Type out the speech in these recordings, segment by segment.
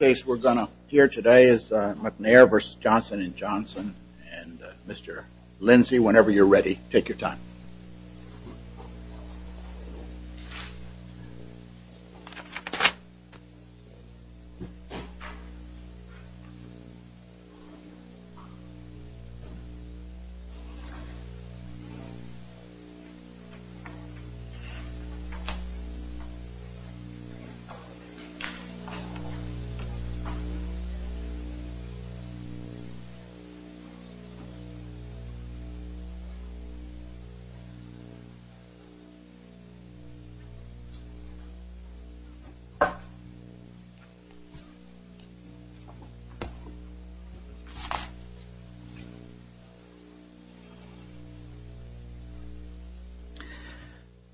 We are going to hear today is McNair v. Johnson & Johnson and Mr. Lindsey, whenever you are ready, take your time.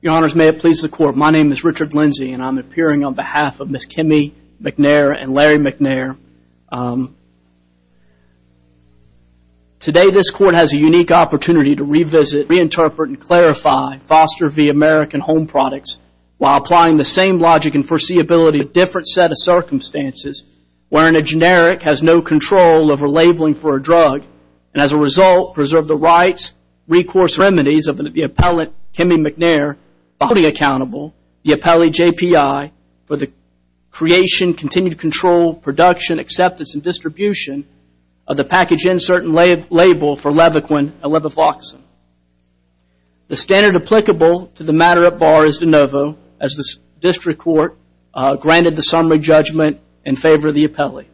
Your honors, may it please the court, my name is Richard Lindsey and I am appearing on behalf of Ms. Kimmy McNair and Larry McNair. Today this court has a unique opportunity to revisit, reinterpret, and clarify Foster v. American Home Products while applying the same logic and foreseeability to a different set of circumstances wherein a generic has no control over labeling for a drug and as a result preserves the rights, recourse, and remedies of the appellate Kimmy McNair voting the appellate JPI for the creation, continued control, production, acceptance, and distribution of the package insert and label for Levaquin and Levofloxacin. The standard applicable to the matter at bar is de novo as the district court granted the summary judgment in favor of the appellate.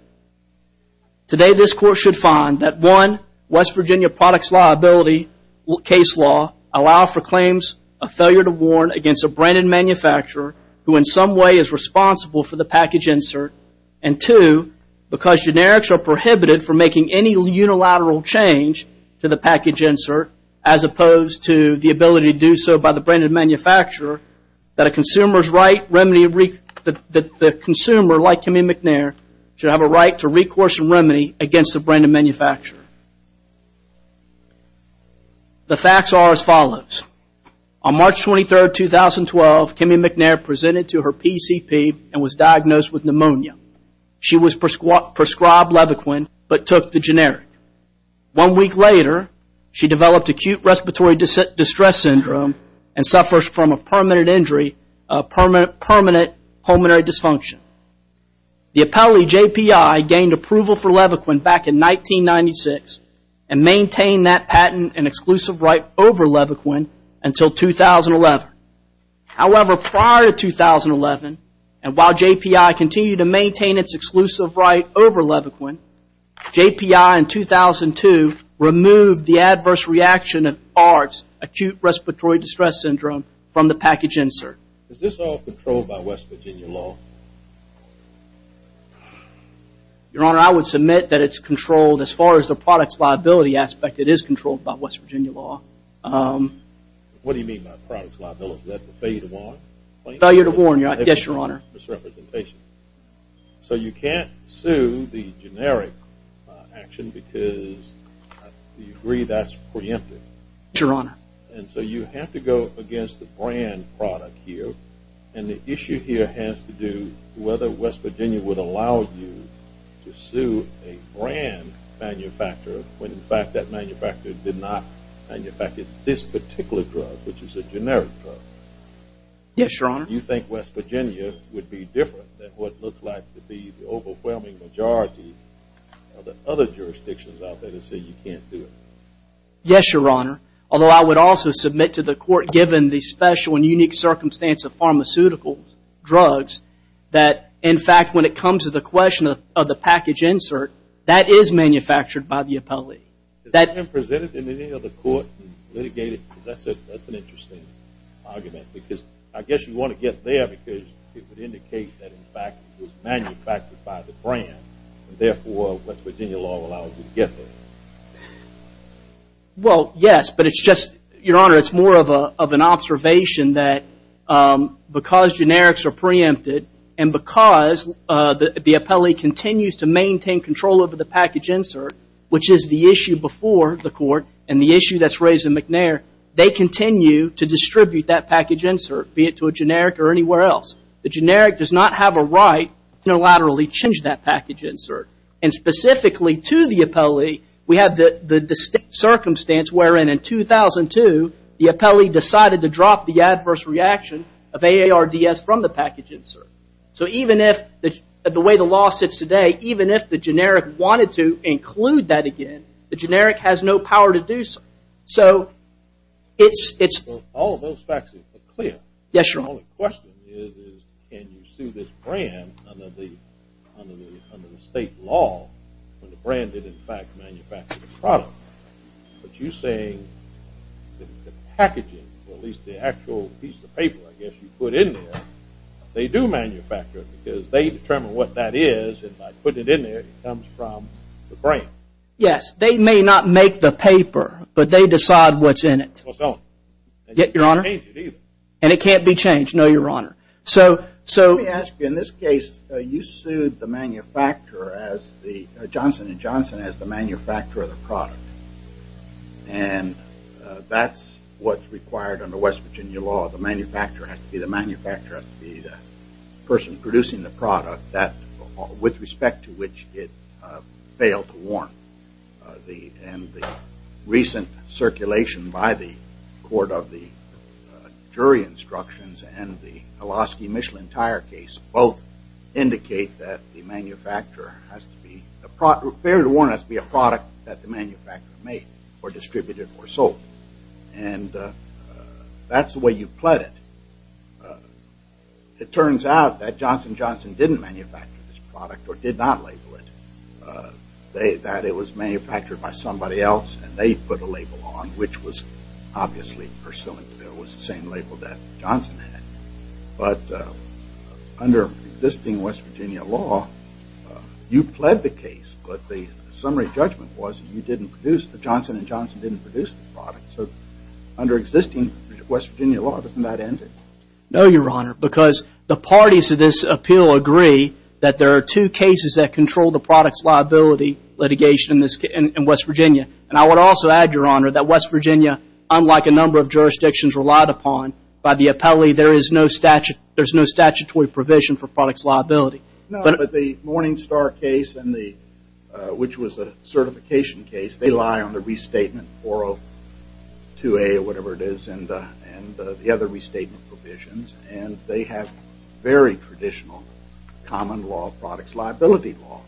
Today this court should find that one West Virginia products liability case law allow for claims of failure to warn against a brand and manufacturer who in some way is responsible for the package insert and two, because generics are prohibited from making any unilateral change to the package insert as opposed to the ability to do so by the brand and manufacturer that the consumer like Kimmy McNair should have a right to recourse and remedy against the brand and manufacturer. The facts are as follows. On March 23, 2012, Kimmy McNair presented to her PCP and was diagnosed with pneumonia. She was prescribed Levaquin but took the generic. One week later, she developed acute respiratory distress syndrome and suffers from a permanent injury of permanent pulmonary dysfunction. The appellate JPI gained approval for Levaquin back in 1996 and maintained that patent and exclusive right over Levaquin until 2011. However, prior to 2011 and while JPI continued to maintain its exclusive right over Levaquin, JPI in 2002 removed the adverse reaction of ARDS, acute respiratory distress syndrome, from the package insert. Is this all controlled by West Virginia law? Your Honor, I would submit that it's controlled as far as the product's liability aspect, it is controlled by West Virginia law. What do you mean by product's liability, is that the failure to warn? Failure to warn, yes, Your Honor. Misrepresentation. So you can't sue the generic action because you agree that's preemptive? Yes, Your Honor. And so you have to go against the brand product here, and the issue here has to do with whether West Virginia would allow you to sue a brand manufacturer when in fact that manufacturer did not manufacture this particular drug, which is a generic drug. Yes, Your Honor. You think West Virginia would be different than what looks like to be the overwhelming majority of the other jurisdictions out there that say you can't do it? Yes, Your Honor. Although I would also submit to the court, given the special and unique circumstance of pharmaceutical drugs, that in fact when it comes to the question of the package insert, that is manufactured by the appellee. That has been presented in any other court and litigated, as I said, that's an interesting argument because I guess you want to get there because it would indicate that in fact it was manufactured by the brand, and therefore West Virginia law allows you to get there. Well, yes, but it's just, Your Honor, it's more of an observation that because generics are preempted, and because the appellee continues to maintain control over the package insert, which is the issue before the court, and the issue that's raised in McNair, they continue to distribute that package insert, be it to a generic or anywhere else. The generic does not have a right to unilaterally change that package insert, and specifically to the appellee, we have the distinct circumstance wherein in 2002, the appellee decided to drop the adverse reaction of AARDS from the package insert. So even if, the way the law sits today, even if the generic wanted to include that again, the generic has no power to do so. So it's... Well, all of those facts are clear. Yes, Your Honor. My only question is, can you sue this brand under the state law, when the brand did, in fact, manufacture the product, but you're saying that the packaging, or at least the actual piece of paper, I guess, you put in there, they do manufacture it, because they determine what that is, and by putting it in there, it comes from the brand. Yes, they may not make the paper, but they decide what's in it. Well, so... Yet, Your Honor... And you can't change it either. And it can't be changed. No, Your Honor. So... So... Let me ask you, in this case, you sued the manufacturer as the, Johnson & Johnson, as the manufacturer of the product, and that's what's required under West Virginia law. The manufacturer has to be the manufacturer, has to be the person producing the product that, with respect to which it failed to warrant the, and the recent circulation by the court of the jury instructions, and the Hiloski-Michelin tire case, both indicate that the manufacturer has to be... Fair to warrant has to be a product that the manufacturer made, or distributed, or sold. And that's the way you pled it. It turns out that Johnson & Johnson didn't manufacture this product, or did not label it. They, that it was manufactured by somebody else, and they put a label on, which was obviously was the same label that Johnson had. But under existing West Virginia law, you pled the case, but the summary judgment was that you didn't produce, that Johnson & Johnson didn't produce the product. So under existing West Virginia law, doesn't that end it? No, Your Honor, because the parties to this appeal agree that there are two cases that control the product's liability litigation in this case, in West Virginia. And I would also add, Your Honor, that West Virginia, unlike a number of jurisdictions relied upon by the appellee, there is no statute, there's no statutory provision for product's liability. No, but the Morningstar case, and the, which was a certification case, they lie on the restatement 402A, or whatever it is, and the other restatement provisions, and they have very traditional common law product's liability law.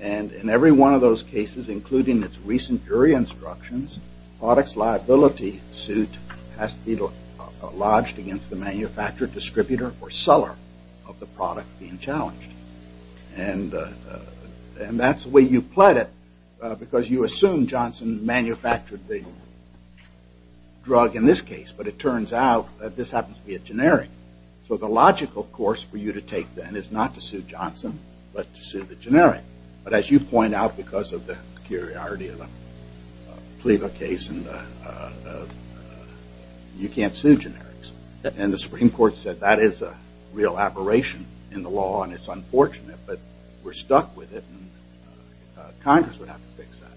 And in every one of those cases, including its recent jury instructions, product's liability suit has to be lodged against the manufacturer, distributor, or seller of the product being challenged. And that's the way you pled it, because you assume Johnson manufactured the drug in this case, but it turns out that this happens to be a generic. So the logical course for you to take, then, is not to sue Johnson, but to sue the generic. But as you point out, because of the peculiarity of the PLEVA case, you can't sue generics. And the Supreme Court said that is a real aberration in the law, and it's unfortunate, but we're stuck with it, and Congress would have to fix that.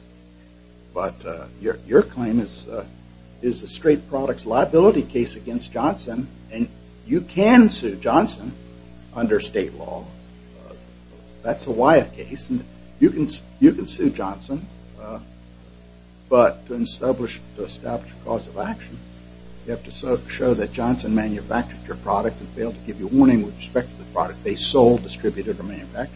But your claim is a straight product's liability case against Johnson, and you can sue Johnson under state law. That's a Wyeth case, and you can sue Johnson. But to establish a cause of action, you have to show that Johnson manufactured your product and fail to give you a warning with respect to the product they sold, distributed, or manufactured.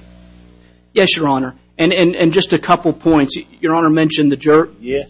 Yes, Your Honor. And just a couple points. Your Honor mentioned the jerk. Yes.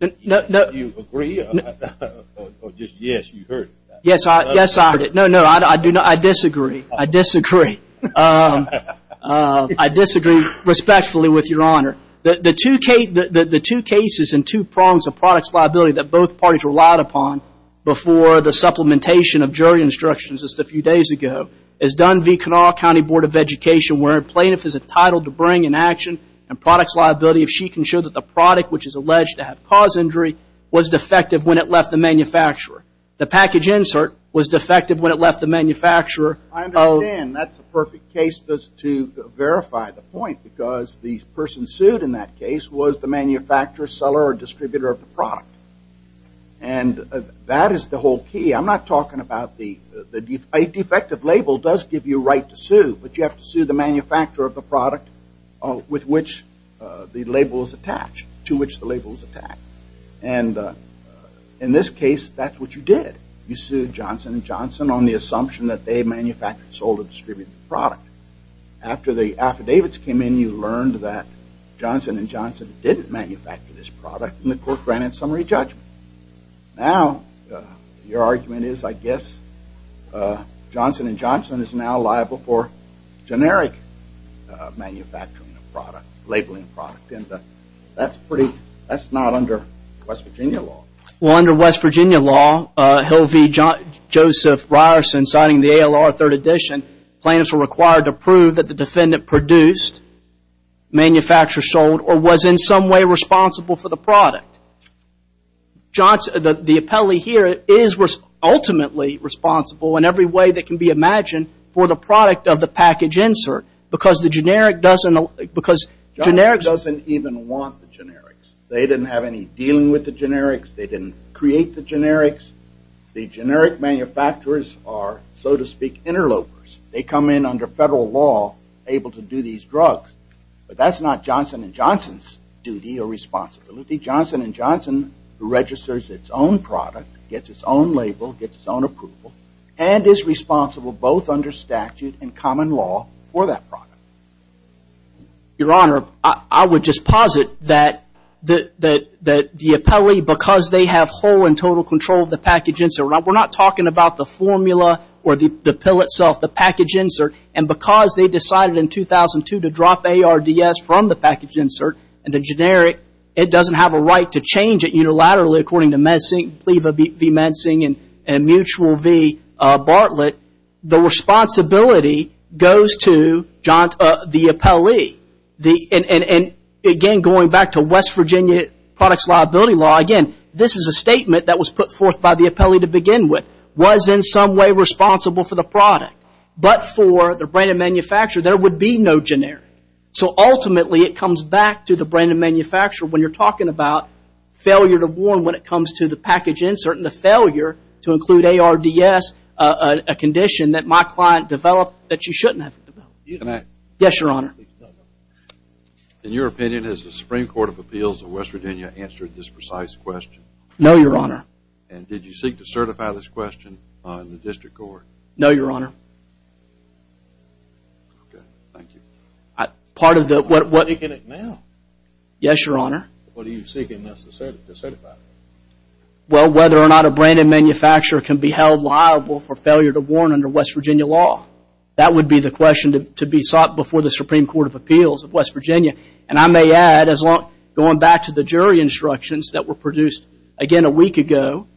No, no. Do you agree? Or just, yes, you heard it. Yes, I heard it. No, no, I disagree. I disagree. I disagree respectfully with Your Honor. The two cases and two prongs of product's liability that both parties relied upon before the supplementation of jury instructions just a few days ago is done via Kanawha County Board of Education, where a plaintiff is entitled to bring in action a product's liability if she can show that the product, which is alleged to have cause injury, was defective when it left the manufacturer. The package insert was defective when it left the manufacturer. I understand. That's the perfect case to verify the point, because the person sued in that case was the manufacturer, seller, or distributor of the product. And that is the whole key. I'm not talking about the – a defective label does give you a right to sue, but you have to sue the manufacturer of the product with which the label is attached, to which the label is attached. And in this case, that's what you did. You sued Johnson & Johnson on the assumption that they manufactured or sold or distributed the product. After the affidavits came in, you learned that Johnson & Johnson didn't manufacture this product, and the court granted summary judgment. Now, your argument is, I guess, Johnson & Johnson is now liable for generic manufacturing of product, labeling of product, and that's pretty – that's not under West Virginia law. Well, under West Virginia law, Hill v. Joseph Ryerson, citing the ALR 3rd edition, plaintiffs were required to prove that the defendant produced, manufactured, sold, or was in some way responsible for the product. The appellee here is ultimately responsible in every way that can be imagined for the product of the package insert, because the generic doesn't – because generics – Johnson doesn't even want the generics. They didn't have any dealing with the generics. They didn't create the generics. The generic manufacturers are, so to speak, interlopers. They come in under federal law, able to do these drugs, but that's not Johnson & Johnson's duty or responsibility. Johnson & Johnson registers its own product, gets its own label, gets its own approval, and is responsible both under statute and common law for that product. Your Honor, I would just posit that the appellee, because they have whole and total control of the package insert – we're not talking about the formula or the pill itself, the package insert – and because they decided in 2002 to drop ARDS from the package insert and the generic, it doesn't have a right to change it unilaterally, according to MedSync, Viva v. MedSync, and Mutual v. Bartlett, the responsibility goes to the appellee. And again, going back to West Virginia products liability law, again, this is a statement that was put forth by the appellee to begin with, was in some way responsible for the product. But for the brand and manufacturer, there would be no generic. So ultimately, it comes back to the brand and manufacturer when you're talking about failure to warn when it comes to the package insert and the failure to include ARDS, a condition that my client developed that you shouldn't have developed. Yes, Your Honor. In your opinion, has the Supreme Court of Appeals of West Virginia answered this precise question? No, Your Honor. And did you seek to certify this question in the District Court? No, Your Honor. Okay. Thank you. Part of the... Are you seeking it now? Yes, Your Honor. What are you seeking us to certify? Well, whether or not a brand and manufacturer can be held liable for failure to warn under West Virginia law. That would be the question to be sought before the Supreme Court of Appeals of West Virginia. And I may add, going back to the jury instructions that were produced, again, a week ago,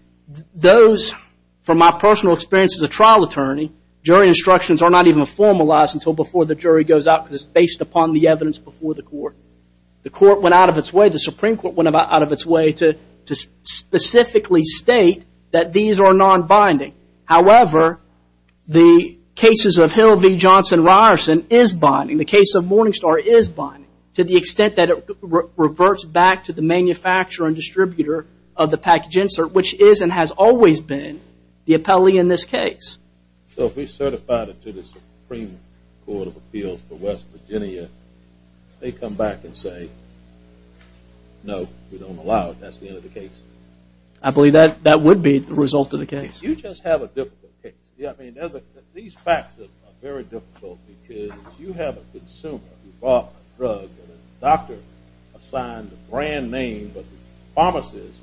those, from my personal experience as a trial attorney, jury instructions are not even formalized until before the jury goes out because it's based upon the evidence before the court. The court went out of its way, the Supreme Court went out of its way to specifically state that these are non-binding. However, the cases of Hill v. Johnson-Ryerson is binding. The case of Morningstar is binding to the extent that it reverts back to the manufacturer and distributor of the package insert, which is and has always been the appellee in this case. So if we certify it to the Supreme Court of Appeals for West Virginia, they come back and say, no, we don't allow it. That's the end of the case. I believe that would be the result of the case. You just have a difficult case. I mean, these facts are very difficult because you have a consumer who bought a drug and a doctor assigned a brand name, but the pharmacist was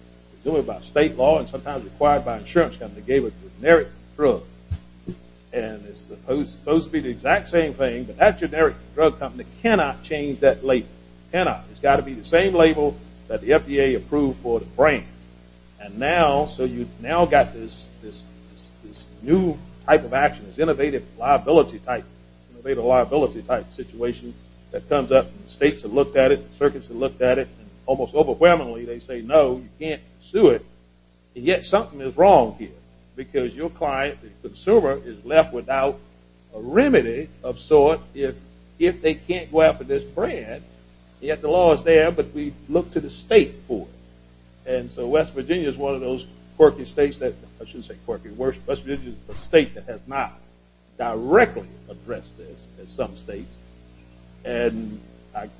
doing it by state law and sometimes required by an insurance company to give it a generic drug. And it's supposed to be the exact same thing, but that generic drug company cannot change that label. Cannot. It's got to be the same label that the FDA approved for the brand. And now, so you've now got this new type of action, this innovative liability type situation that comes up. States have looked at it. Circuits have looked at it. And almost overwhelmingly, they say, no, you can't sue it. And yet, something is wrong here because your client, the consumer, is left without a remedy of sort if they can't go after this brand, yet the law is there, but we look to the state for it. And so West Virginia is one of those quirky states that, I shouldn't say quirky, worse, West Virginia is a state that has not directly addressed this as some states. And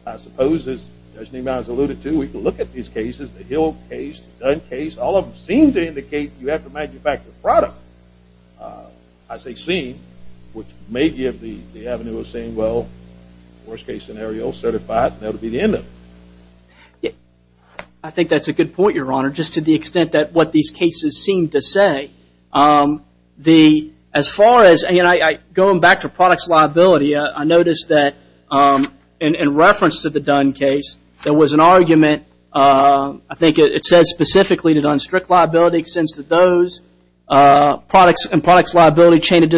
I suppose, as Judge Neiman has alluded to, we can look at these cases, the Hill case, the Dunn case, all of them seem to indicate that you have to manufacture a product, as they seem, which may give the avenue of saying, well, worst case scenario, certified, and that'll be the end of it. I think that's a good point, Your Honor, just to the extent that what these cases seem to say. As far as, going back to products liability, I noticed that in reference to the Dunn case, there was an argument, I think it says specifically that unstrict liability extends to those products and products liability chain of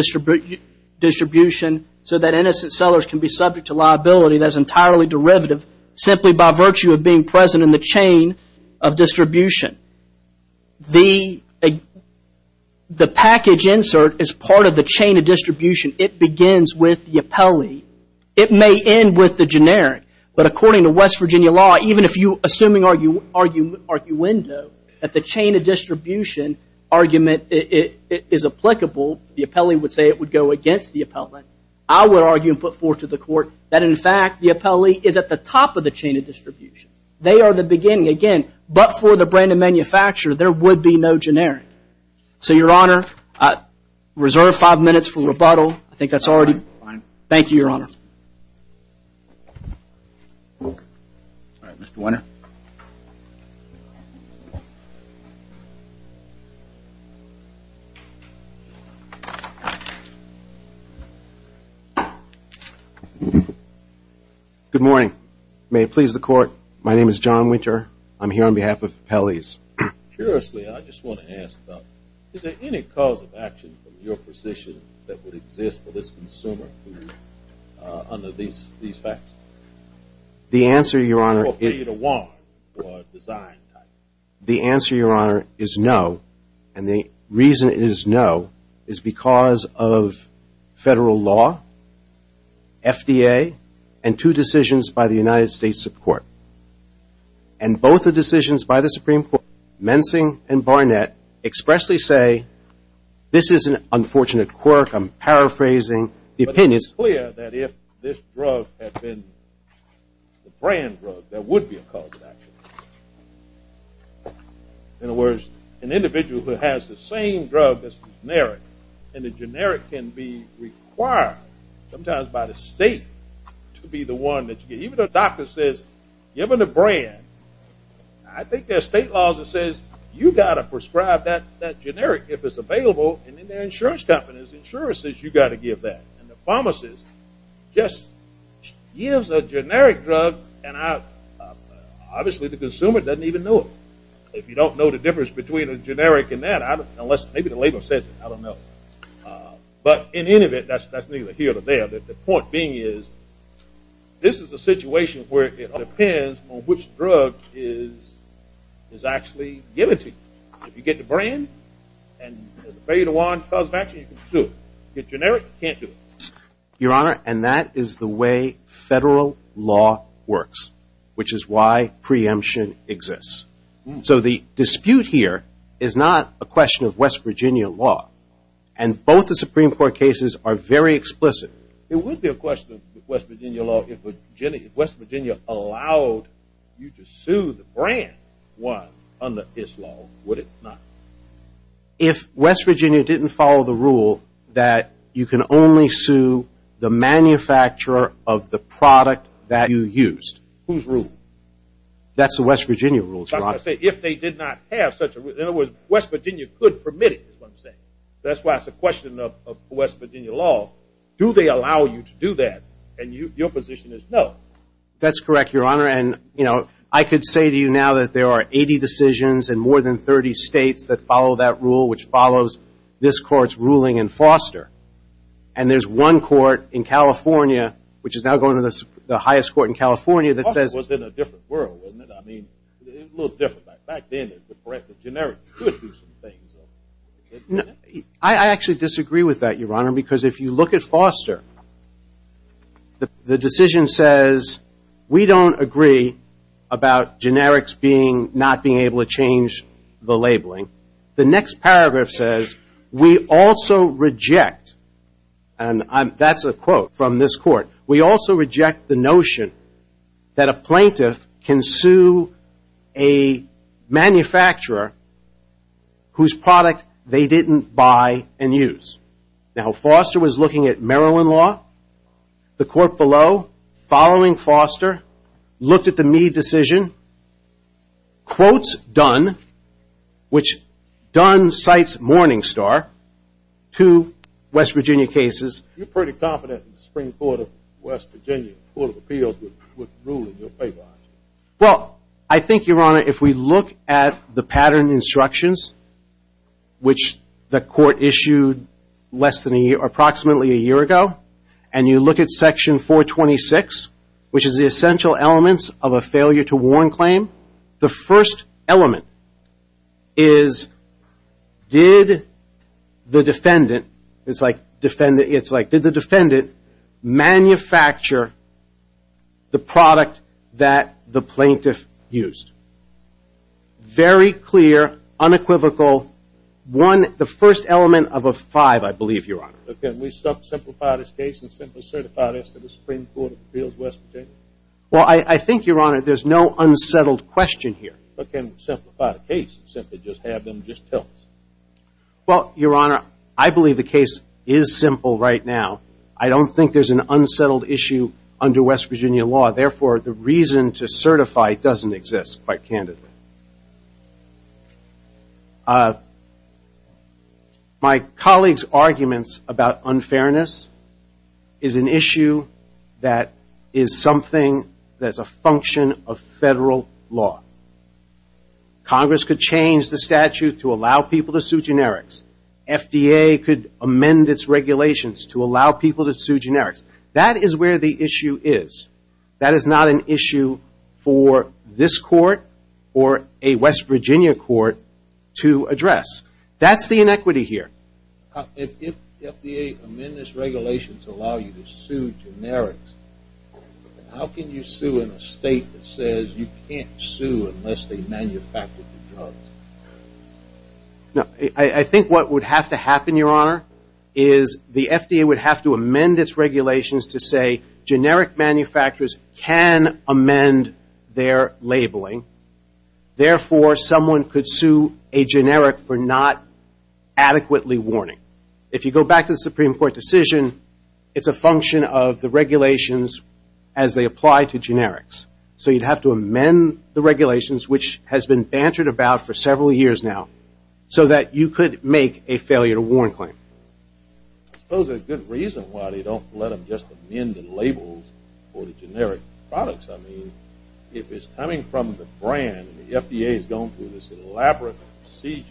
distribution, so that innocent sellers can be subject to liability that is entirely derivative, simply by virtue of being present in the chain of distribution. The package insert is part of the chain of distribution. It begins with the appellee. It may end with the generic. But according to West Virginia law, even if you, assuming arguendo, that the chain of distribution argument is applicable, the appellee would say it would go against the appellee, I would argue and put forth to the court that, in fact, the appellee is at the top of the chain of distribution. They are the beginning. Again, but for the brand and manufacturer, there would be no generic. So Your Honor, I reserve five minutes for rebuttal. I think that's already... Thank you, Your Honor. All right, Mr. Winter. Good morning. May it please the court, my name is John Winter. I'm here on behalf of Appellees. Curiously, I just want to ask about, is there any cause of action from your position that would exist for this consumer under these facts? The answer, Your Honor, is no. And the reason it is no is because of federal law, FDA, and two decisions by the United States Supreme Court. And both the decisions by the Supreme Court, Mensing and Barnett, expressly say, this is an unfortunate quirk. I'm paraphrasing. But it's clear that if this drug had been the brand drug, there would be a cause of action. In other words, an individual who has the same drug that's generic, and the generic can be required, sometimes by the state, to be the one that you get. Even though the doctor says, given the brand, I think there are state laws that says, you know, if it's available, insurance companies, insurances, you've got to give that. And the pharmacist just gives a generic drug, and obviously, the consumer doesn't even know it. If you don't know the difference between a generic and that, unless maybe the label says it, I don't know. But in any event, that's neither here nor there, but the point being is, this is a situation where it depends on which drug is actually given to you. If you get the brand, and it's available as a cause of action, you can sue it. If it's generic, you can't do it. Your Honor, and that is the way federal law works, which is why preemption exists. So the dispute here is not a question of West Virginia law, and both the Supreme Court cases are very explicit. It would be a question of West Virginia law if West Virginia allowed you to sue the brand one under this law, would it not? If West Virginia didn't follow the rule that you can only sue the manufacturer of the product that you used, whose rule? That's the West Virginia rule. I was going to say, if they did not have such a rule, in other words, West Virginia could permit it, is what I'm saying. That's why it's a question of West Virginia law. Do they allow you to do that? And your position is no. That's correct, Your Honor. And I could say to you now that there are 80 decisions in more than 30 states that follow that rule, which follows this Court's ruling in Foster. And there's one court in California, which is now going to the highest court in California, that says- Foster was in a different world, wasn't it? I mean, it was a little different back then. The fact that generic could do some things. I actually disagree with that, Your Honor, because if you look at Foster, the decision says we don't agree about generics not being able to change the labeling. The next paragraph says, we also reject, and that's a quote from this court, we also reject the notion that a plaintiff can sue a manufacturer whose product they didn't buy and use. Now, Foster was looking at Maryland law. The court below, following Foster, looked at the Meade decision. Quotes Dunn, which Dunn cites Morningstar, two West Virginia cases- You're pretty confident the Supreme Court of West Virginia, the Court of Appeals, would rule in your favor, aren't you? Well, I think, Your Honor, if we look at the pattern instructions, which the court issued less than a year, approximately a year ago, and you look at section 426, which is the essential elements of a failure to warn claim, the first element is, did the defendant, it's the plaintiff, used? Very clear, unequivocal, one, the first element of a five, I believe, Your Honor. But can we simplify this case and simply certify this to the Supreme Court of Appeals of West Virginia? Well, I think, Your Honor, there's no unsettled question here. But can we simplify the case and simply just have them just tell us? Well, Your Honor, I believe the case is simple right now. I don't think there's an unsettled issue under West Virginia law. Therefore, the reason to certify doesn't exist, quite candidly. My colleague's arguments about unfairness is an issue that is something that is a function of federal law. Congress could change the statute to allow people to sue generics. FDA could amend its regulations to allow people to sue generics. That is where the issue is. That is not an issue for this court or a West Virginia court to address. That's the inequity here. If the FDA amended its regulations to allow you to sue generics, how can you sue in a state that says you can't sue unless they manufacture the drugs? I think what would have to happen, Your Honor, is the FDA would have to amend its regulations to say generic manufacturers can amend their labeling. Therefore, someone could sue a generic for not adequately warning. If you go back to the Supreme Court decision, it's a function of the regulations as they apply to generics. So you'd have to amend the regulations, which has been bantered about for several years now, so that you could make a failure to warn claim. I suppose there's a good reason why they don't let them just amend the labels for the generic products. I mean, if it's coming from the brand, and the FDA has gone through this elaborate procedure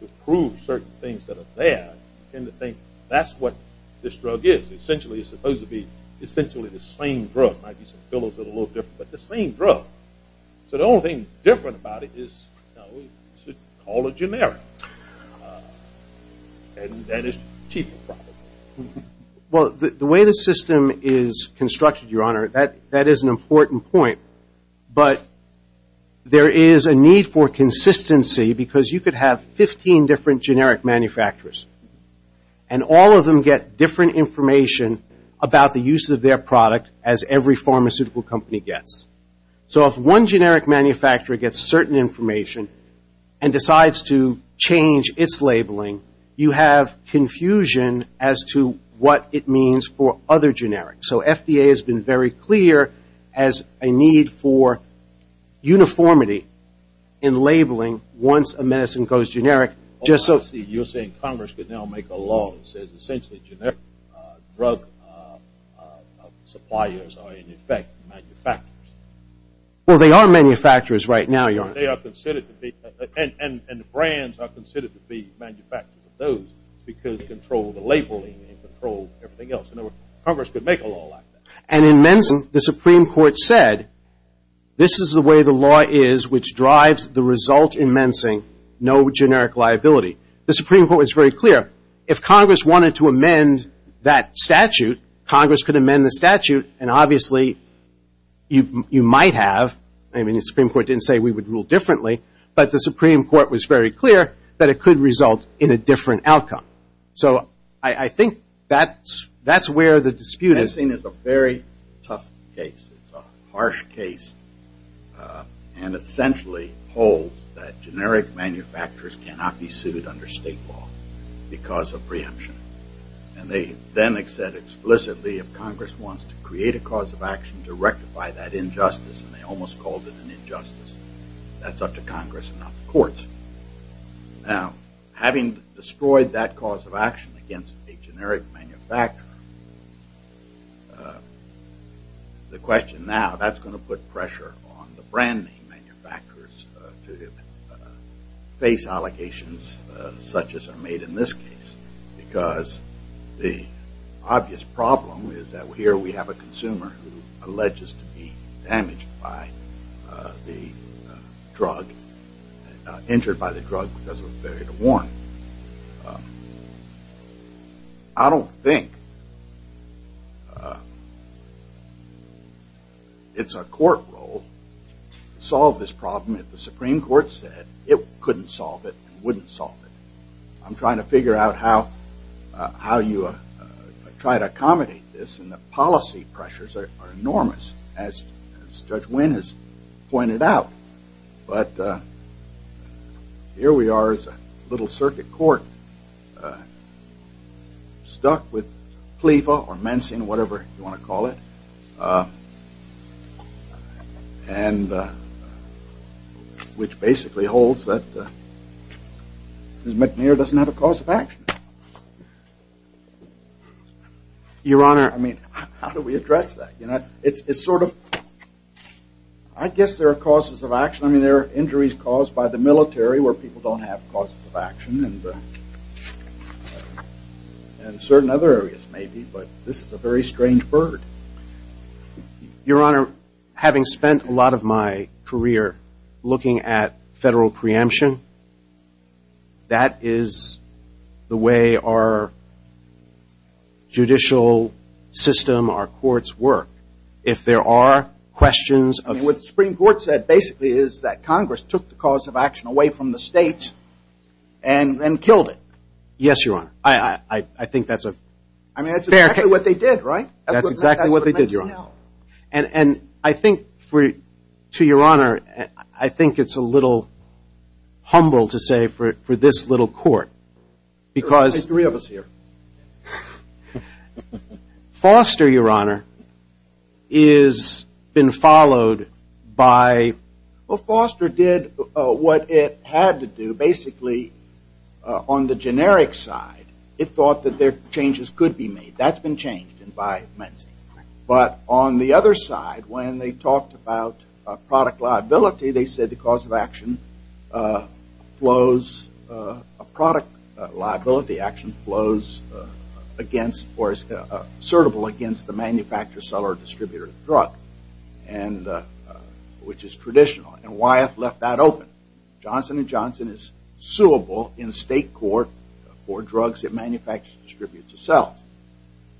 to prove certain things that are bad, you tend to think that's what this drug is. Essentially, it's supposed to be essentially the same drug. It might be some pillows that are a little different, but the same drug. So the only thing different about it is, no, we should call it generic. And that is cheap. Well, the way the system is constructed, Your Honor, that is an important point. But there is a need for consistency, because you could have 15 different generic manufacturers. And all of them get different information about the use of their product as every pharmaceutical company gets. So if one generic manufacturer gets certain information and decides to change its labeling, you have confusion as to what it means for other generic. So FDA has been very clear as a need for uniformity in labeling once a medicine goes generic. Just so you're saying Congress could now make a law that says, essentially, generic drug suppliers are, in effect, manufacturers. Well, they are manufacturers right now, Your Honor. And the brands are considered to be manufacturers of those, because they control the labeling and control everything else. In other words, Congress could make a law like that. And in Mensing, the Supreme Court said, this is the way the law is which drives the result in Mensing, no generic liability. The Supreme Court was very clear. If Congress wanted to amend that statute, Congress could amend the statute. And obviously, you might have. I mean, the Supreme Court didn't say we would rule differently. But the Supreme Court was very clear that it could result in a different outcome. So I think that's where the dispute is. Mensing is a very tough case. It's a harsh case and essentially holds that generic manufacturers cannot be sued under state law because of preemption. And they then said explicitly, if Congress wants to create a cause of action to rectify that injustice, and they almost called it an injustice, that's up to Congress and not the courts. Now, having destroyed that cause of action against a generic manufacturer, the question now, that's going to put pressure on the brand manufacturers to face allegations such as are made in this case. Because the obvious problem is that here we allege is to be damaged by the drug, injured by the drug because of a failure to warn. I don't think it's a court role to solve this problem if the Supreme Court said it couldn't solve it and wouldn't solve it. I'm trying to figure out how you try to accommodate this. And the policy pressures are enormous, as Judge Wynn has pointed out. But here we are as a little circuit court stuck with PLEFA or Mensing, whatever you want to call it, which basically holds that Ms. McNeer Your Honor. I mean, how do we address that? It's sort of, I guess there are causes of action. I mean, there are injuries caused by the military where people don't have causes of action, and certain other areas maybe. But this is a very strange bird. Your Honor, having spent a lot of my career looking at federal preemption, that is the way our judicial system, our courts work. If there are questions of- What the Supreme Court said basically is that Congress took the cause of action away from the states and then killed it. Yes, Your Honor. I think that's a fair case. I mean, that's exactly what they did, right? That's exactly what they did, Your Honor. And I think, to Your Honor, I think it's a little humble to say for this little court, because Foster, Your Honor, has been followed by- Well, Foster did what it had to do. Basically, on the generic side, it thought that there changes could be made. That's been changed by Mensing. But on the other side, when they talked about product liability, they said the cause of action flows, a product liability action flows against, or is assertable against the manufacturer, seller, distributor of the drug, and which is traditional. And Wyeth left that open. Johnson & Johnson is suable in state court for drugs it manufactures and distributes itself.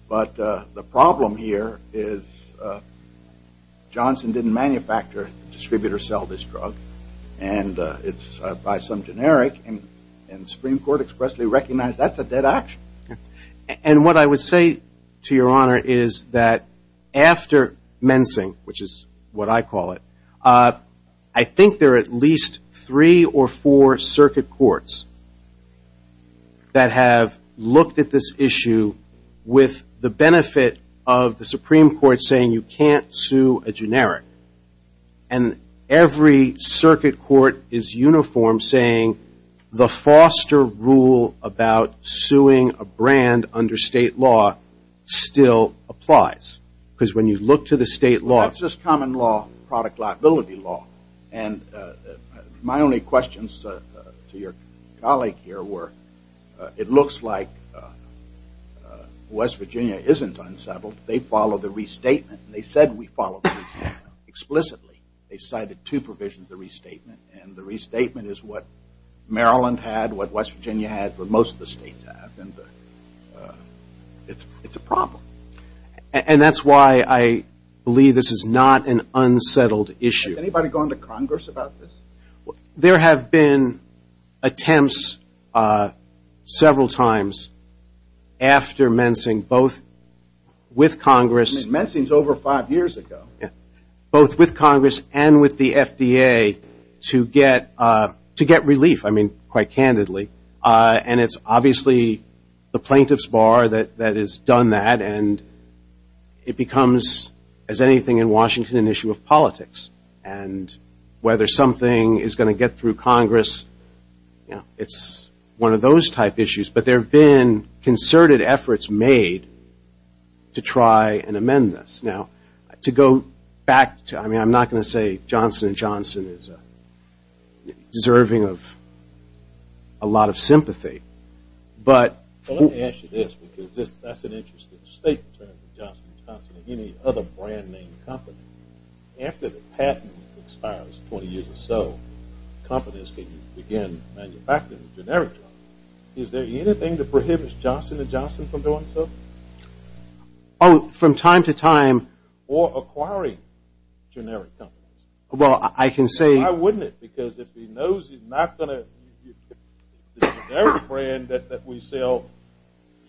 But the problem here is Johnson didn't manufacture, distribute, or sell this drug. And it's by some generic, and the Supreme Court expressly recognized that's a dead action. And what I would say to Your Honor is that after Mensing, which is what I call it, I think there are at least three or four circuit courts that have looked at this issue with the benefit of the Supreme Court saying you can't sue a generic. And every circuit court is uniform, saying the Foster rule about suing a brand under state law still applies. Because when you look to the state law- That's just common law, product liability law. And my only questions to your colleague here were it looks like West Virginia isn't unsettled. They follow the restatement. They said we follow the restatement explicitly. They cited two provisions of the restatement. And the restatement is what Maryland had, what West Virginia had, what most of the states have. And it's a problem. And that's why I believe this is not an unsettled issue. Has anybody gone to Congress about this? There have been attempts several times after Mensing, both with Congress- Mensing's over five years ago. Both with Congress and with the FDA to get relief, quite candidly. And it's obviously the plaintiff's bar that has done that. And it becomes, as anything in Washington, an issue of politics. And whether something is going to get through Congress, it's one of those type issues. But there have been concerted efforts made to try and amend this. Now, to go back to- I mean, I'm not going to say Johnson & Johnson is deserving of a lot of sympathy. But- Well, let me ask you this, because that's an interesting statement, Johnson & Johnson and any other brand-name company. After the patent expires 20 years or so, companies can begin manufacturing generic drugs. Is there anything to prohibit Johnson & Johnson from doing so? Oh, from time to time- Or acquiring generic drugs. Well, I can say- Why wouldn't it? Because if he knows he's not going to- The generic brand that we sell,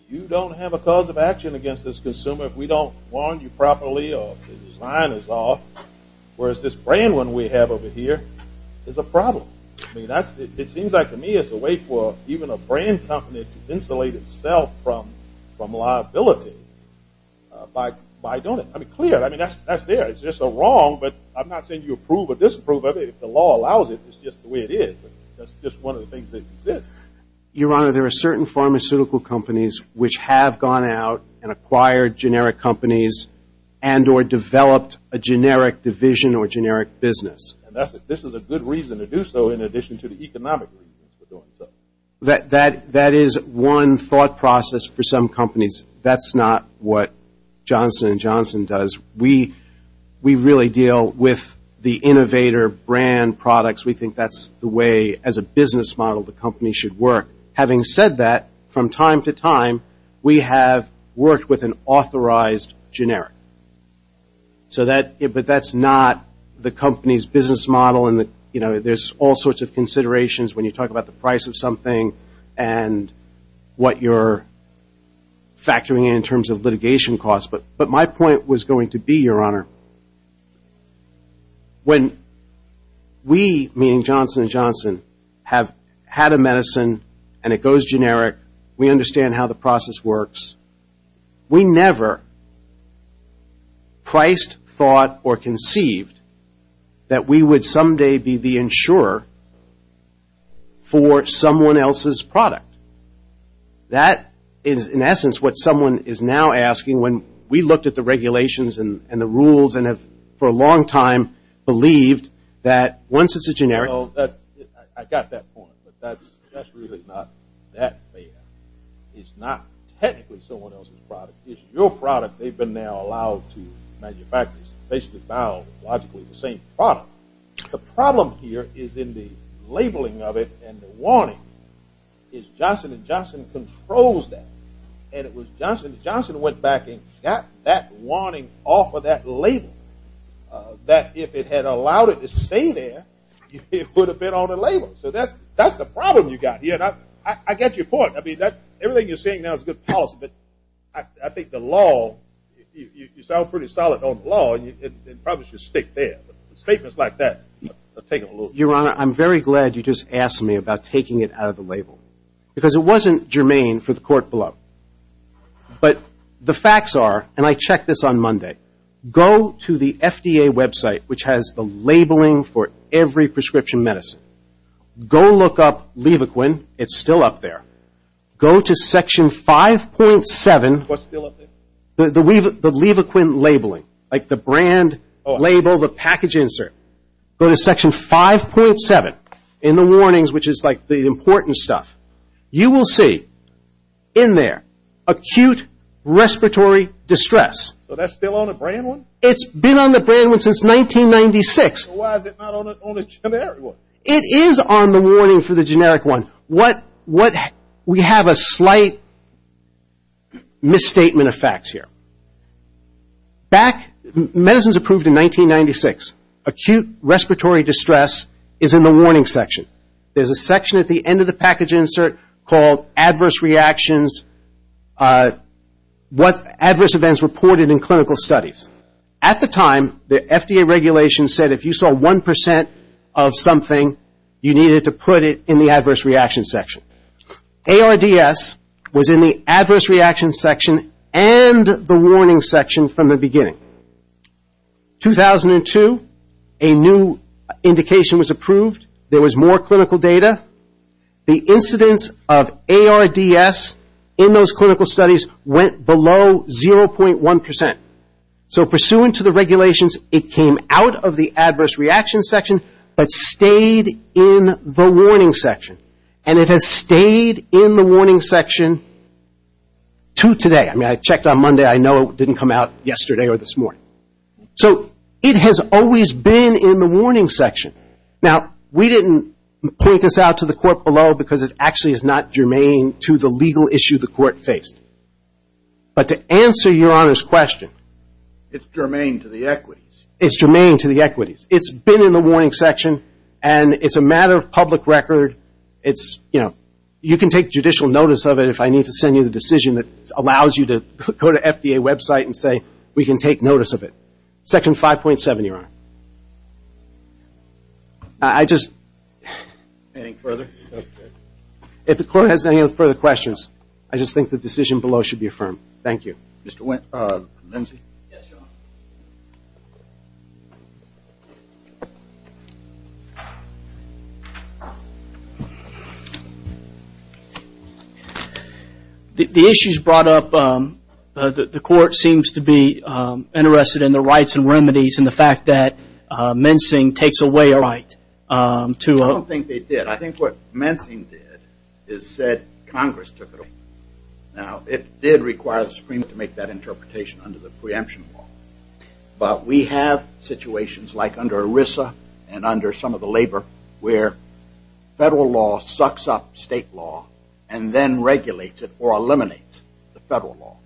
you don't have a cause of action against this consumer if we don't warn you properly or the design is off. Whereas this brand one we have over here is a problem. It seems like, to me, it's a way for even a brand company to insulate itself from liability by doing it. I mean, clearly, that's there. It's just a wrong. But I'm not saying you approve or disapprove of it. If the law allows it, it's just the way it is. That's just one of the things that exist. Your Honor, there are certain pharmaceutical companies which have gone out and acquired generic companies and or developed a generic division or generic business. And this is a good reason to do so in addition to the economic reasons for doing so. That is one thought process for some companies. That's not what Johnson & Johnson does. We really deal with the innovator brand products. We think that's the way, as a business model, the company should work. Having said that, from time to time, we have worked with an authorized generic. But that's not the company's business model. And there's all sorts of considerations when you talk about the price of something and what you're factoring in in terms of litigation costs. But my point was going to be, Your Honor, when we, meaning Johnson & Johnson, have had a medicine and it goes generic, we understand how the process works, we never priced, thought, or conceived that we would someday be the insurer for someone else's product. That is, in essence, what someone is now asking when we looked at the regulations and the rules and have, for a long time, believed that once it's a generic... Well, I got that point, but that's really not that bad. It's not technically someone else's product. It's your product they've been now allowed to manufacture. It's basically biologically the same product. The problem here is in the labeling of it and the warning. It's Johnson & Johnson controls that. And it was Johnson & Johnson went back and got that warning off of that label that if it had allowed it to stay there, it would have been on the label. So that's the problem you got here. And I get your point. I mean, everything you're saying now is a good policy, but I think the law, you sound pretty solid on the law, and probably should stick there. But statements like that take a little... Your Honor, I'm very glad you just asked me about taking it out of the label. Because it wasn't germane for the court below. But the facts are, and I checked this on Monday, go to the FDA website, which has the labeling for every prescription medicine. Go look up Levaquin. It's still up there. Go to section 5.7. What's still up there? The Levaquin labeling, like the brand label, the package insert. Go to section 5.7 in the warnings, which is like the important stuff. You will see in there acute respiratory distress. So that's still on the brand one? It's been on the brand one since 1996. So why is it not on the generic one? It is on the warning for the generic one. What... We have a slight misstatement of facts here. Back... Medicine's approved in 1996. Acute respiratory distress is in the warning section. There's a section at the end of the package insert called adverse reactions. What adverse events reported in clinical studies. At the time, the FDA regulations said if you saw 1% of something, you needed to put it in the adverse reaction section. ARDS was in the adverse reaction section and the warning section from the beginning. 2002, a new indication was approved. There was more clinical data. The incidence of ARDS in those clinical studies went below 0.1%. So pursuant to the regulations, it came out of the adverse reaction section, but stayed in the warning section. And it has stayed in the warning section to today. I mean, I checked on Monday. I know it didn't come out yesterday or this morning. So it has always been in the warning section. Now, we didn't point this out to the court below because it actually is not germane to the legal issue the court faced. But to answer Your Honor's question... It's germane to the equities. It's germane to the equities. It's been in the warning section. And it's a matter of public record. You can take judicial notice of it if I need to send you the decision that allows you to go to FDA website and say we can take notice of it. Section 5.7, Your Honor. I just... Anything further? If the court has any further questions, I just think the decision below should be affirmed. Thank you. Mr. Lindsey? Yes, Your Honor. The issue is brought up... The court seems to be interested in the rights and remedies and the fact that mensing takes away a right. I don't think they did. I think what mensing did is said Congress took it away. Now, it did require the Supreme Court to make that interpretation under the preemption law. But we have situations like under ERISA and under some of the labor where federal law sucks up state law and then regulates it or eliminates the federal law.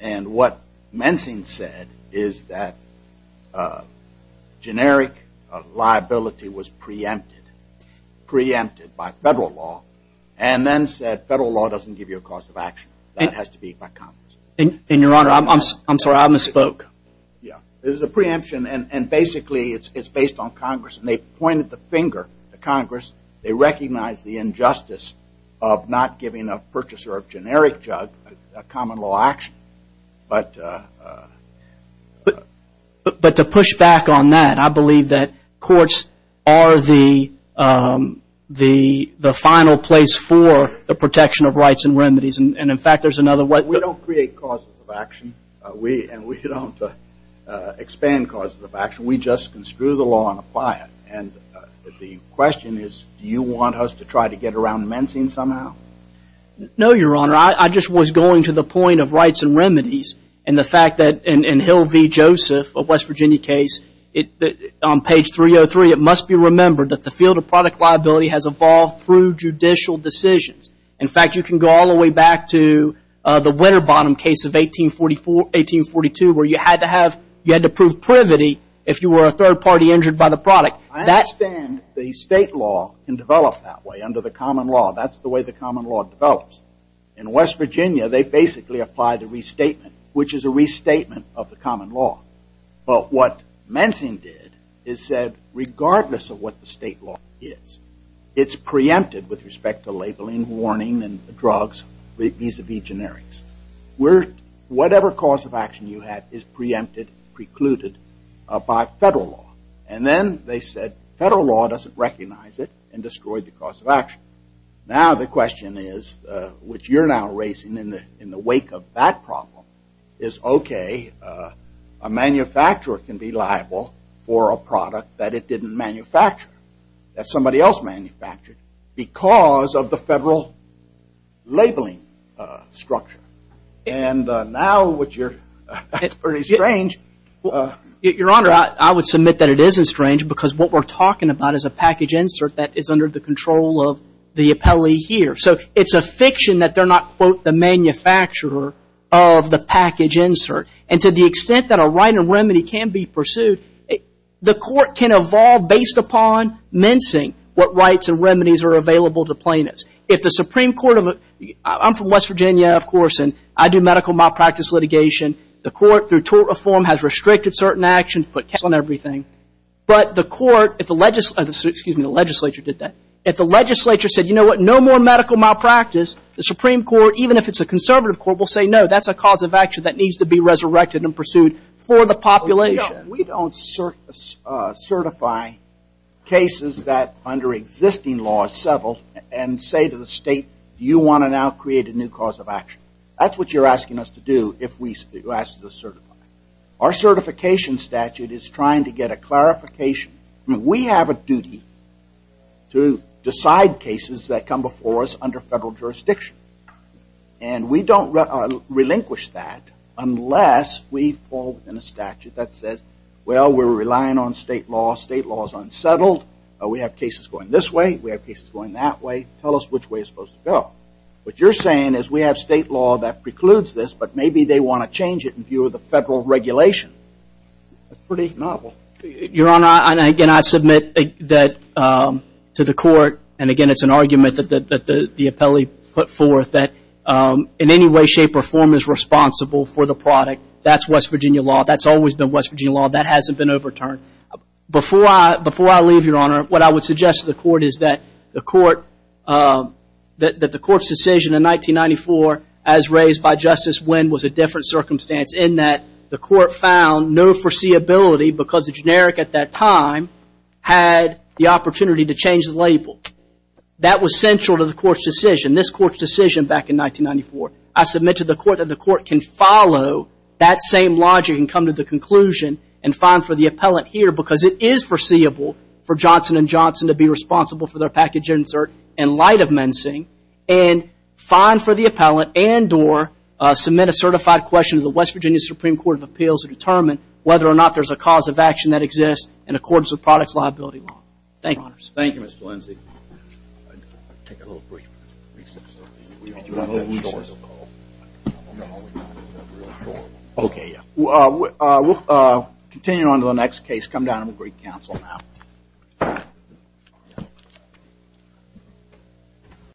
And what mensing said is that generic liability was preempted by federal law and then said it's a preemption of your cause of action. That has to be by Congress. And, Your Honor, I'm sorry, I misspoke. Yeah. It was a preemption and basically it's based on Congress and they pointed the finger to Congress. They recognized the injustice of not giving a purchaser of generic drug a common law action. But to push back on that, I believe that courts are the final place for the protection of remedies. And, in fact, there's another way. We don't create causes of action and we don't expand causes of action. We just construe the law and apply it. And the question is, do you want us to try to get around mensing somehow? No, Your Honor, I just was going to the point of rights and remedies and the fact that in Hill v. Joseph, a West Virginia case, on page 303, it must be remembered that the field of product liability has evolved through judicial decisions. In fact, you can go all the way back to the Winterbottom case of 1842 where you had to prove privity if you were a third party injured by the product. I understand the state law can develop that way under the common law. That's the way the common law develops. In West Virginia, they basically apply the restatement, which is a restatement of the common law. But what mensing did is said, regardless of what the state law is, it's preempted with respect to labeling, warning, and drugs vis-a-vis generics. Whatever cause of action you have is preempted, precluded by federal law. And then they said, federal law doesn't recognize it and destroyed the cause of action. Now the question is, which you're now raising in the wake of that problem, is, okay, a manufacturer can be liable for a product that it didn't manufacture, that somebody else manufactured because of the federal labeling structure. And now what you're, that's pretty strange. Your Honor, I would submit that it isn't strange because what we're talking about is a package insert that is under the control of the appellee here. So it's a fiction that they're not, quote, the manufacturer of the package insert. And to the extent that a right of remedy can be pursued, the court can evolve based upon mensing what rights and remedies are available to plaintiffs. If the Supreme Court of, I'm from West Virginia, of course, and I do medical malpractice litigation. The court, through tort reform, has restricted certain actions, put cash on everything. But the court, if the legislature, excuse me, the legislature did that, if the legislature said, you know what, no more medical malpractice, the Supreme Court, even if it's a conservative court, will say, no, that's a cause of action that needs to be resurrected and pursued for the population. We don't certify cases that under existing laws settled and say to the state, you want to now create a new cause of action. That's what you're asking us to do if we ask to certify. Our certification statute is trying to get a clarification. We have a duty to decide cases that come before us under federal jurisdiction. And we don't relinquish that unless we fall within a statute that says, well, we're relying on state law, state law is unsettled, we have cases going this way, we have cases going that way, tell us which way it's supposed to go. What you're saying is we have state law that precludes this, but maybe they want to change it in view of the federal regulation. That's pretty novel. Your Honor, and again, I submit that to the court, and again, it's an argument that the court that in any way, shape, or form is responsible for the product. That's West Virginia law. That's always been West Virginia law. That hasn't been overturned. Before I leave, Your Honor, what I would suggest to the court is that the court's decision in 1994, as raised by Justice Wynn, was a different circumstance in that the court found no foreseeability because the generic at that time had the opportunity to change the label. That was central to the court's decision. This court's decision back in 1994. I submit to the court that the court can follow that same logic and come to the conclusion and find for the appellant here because it is foreseeable for Johnson & Johnson to be responsible for their package insert in light of mensing and find for the appellant and or submit a certified question to the West Virginia Supreme Court of Appeals to determine whether or not there's a cause of action that exists in accordance with products liability law. Thank you, Your Honors. Thank you, Mr. Lindsay. We'll continue on to the next case. Come down to the Greek Council now.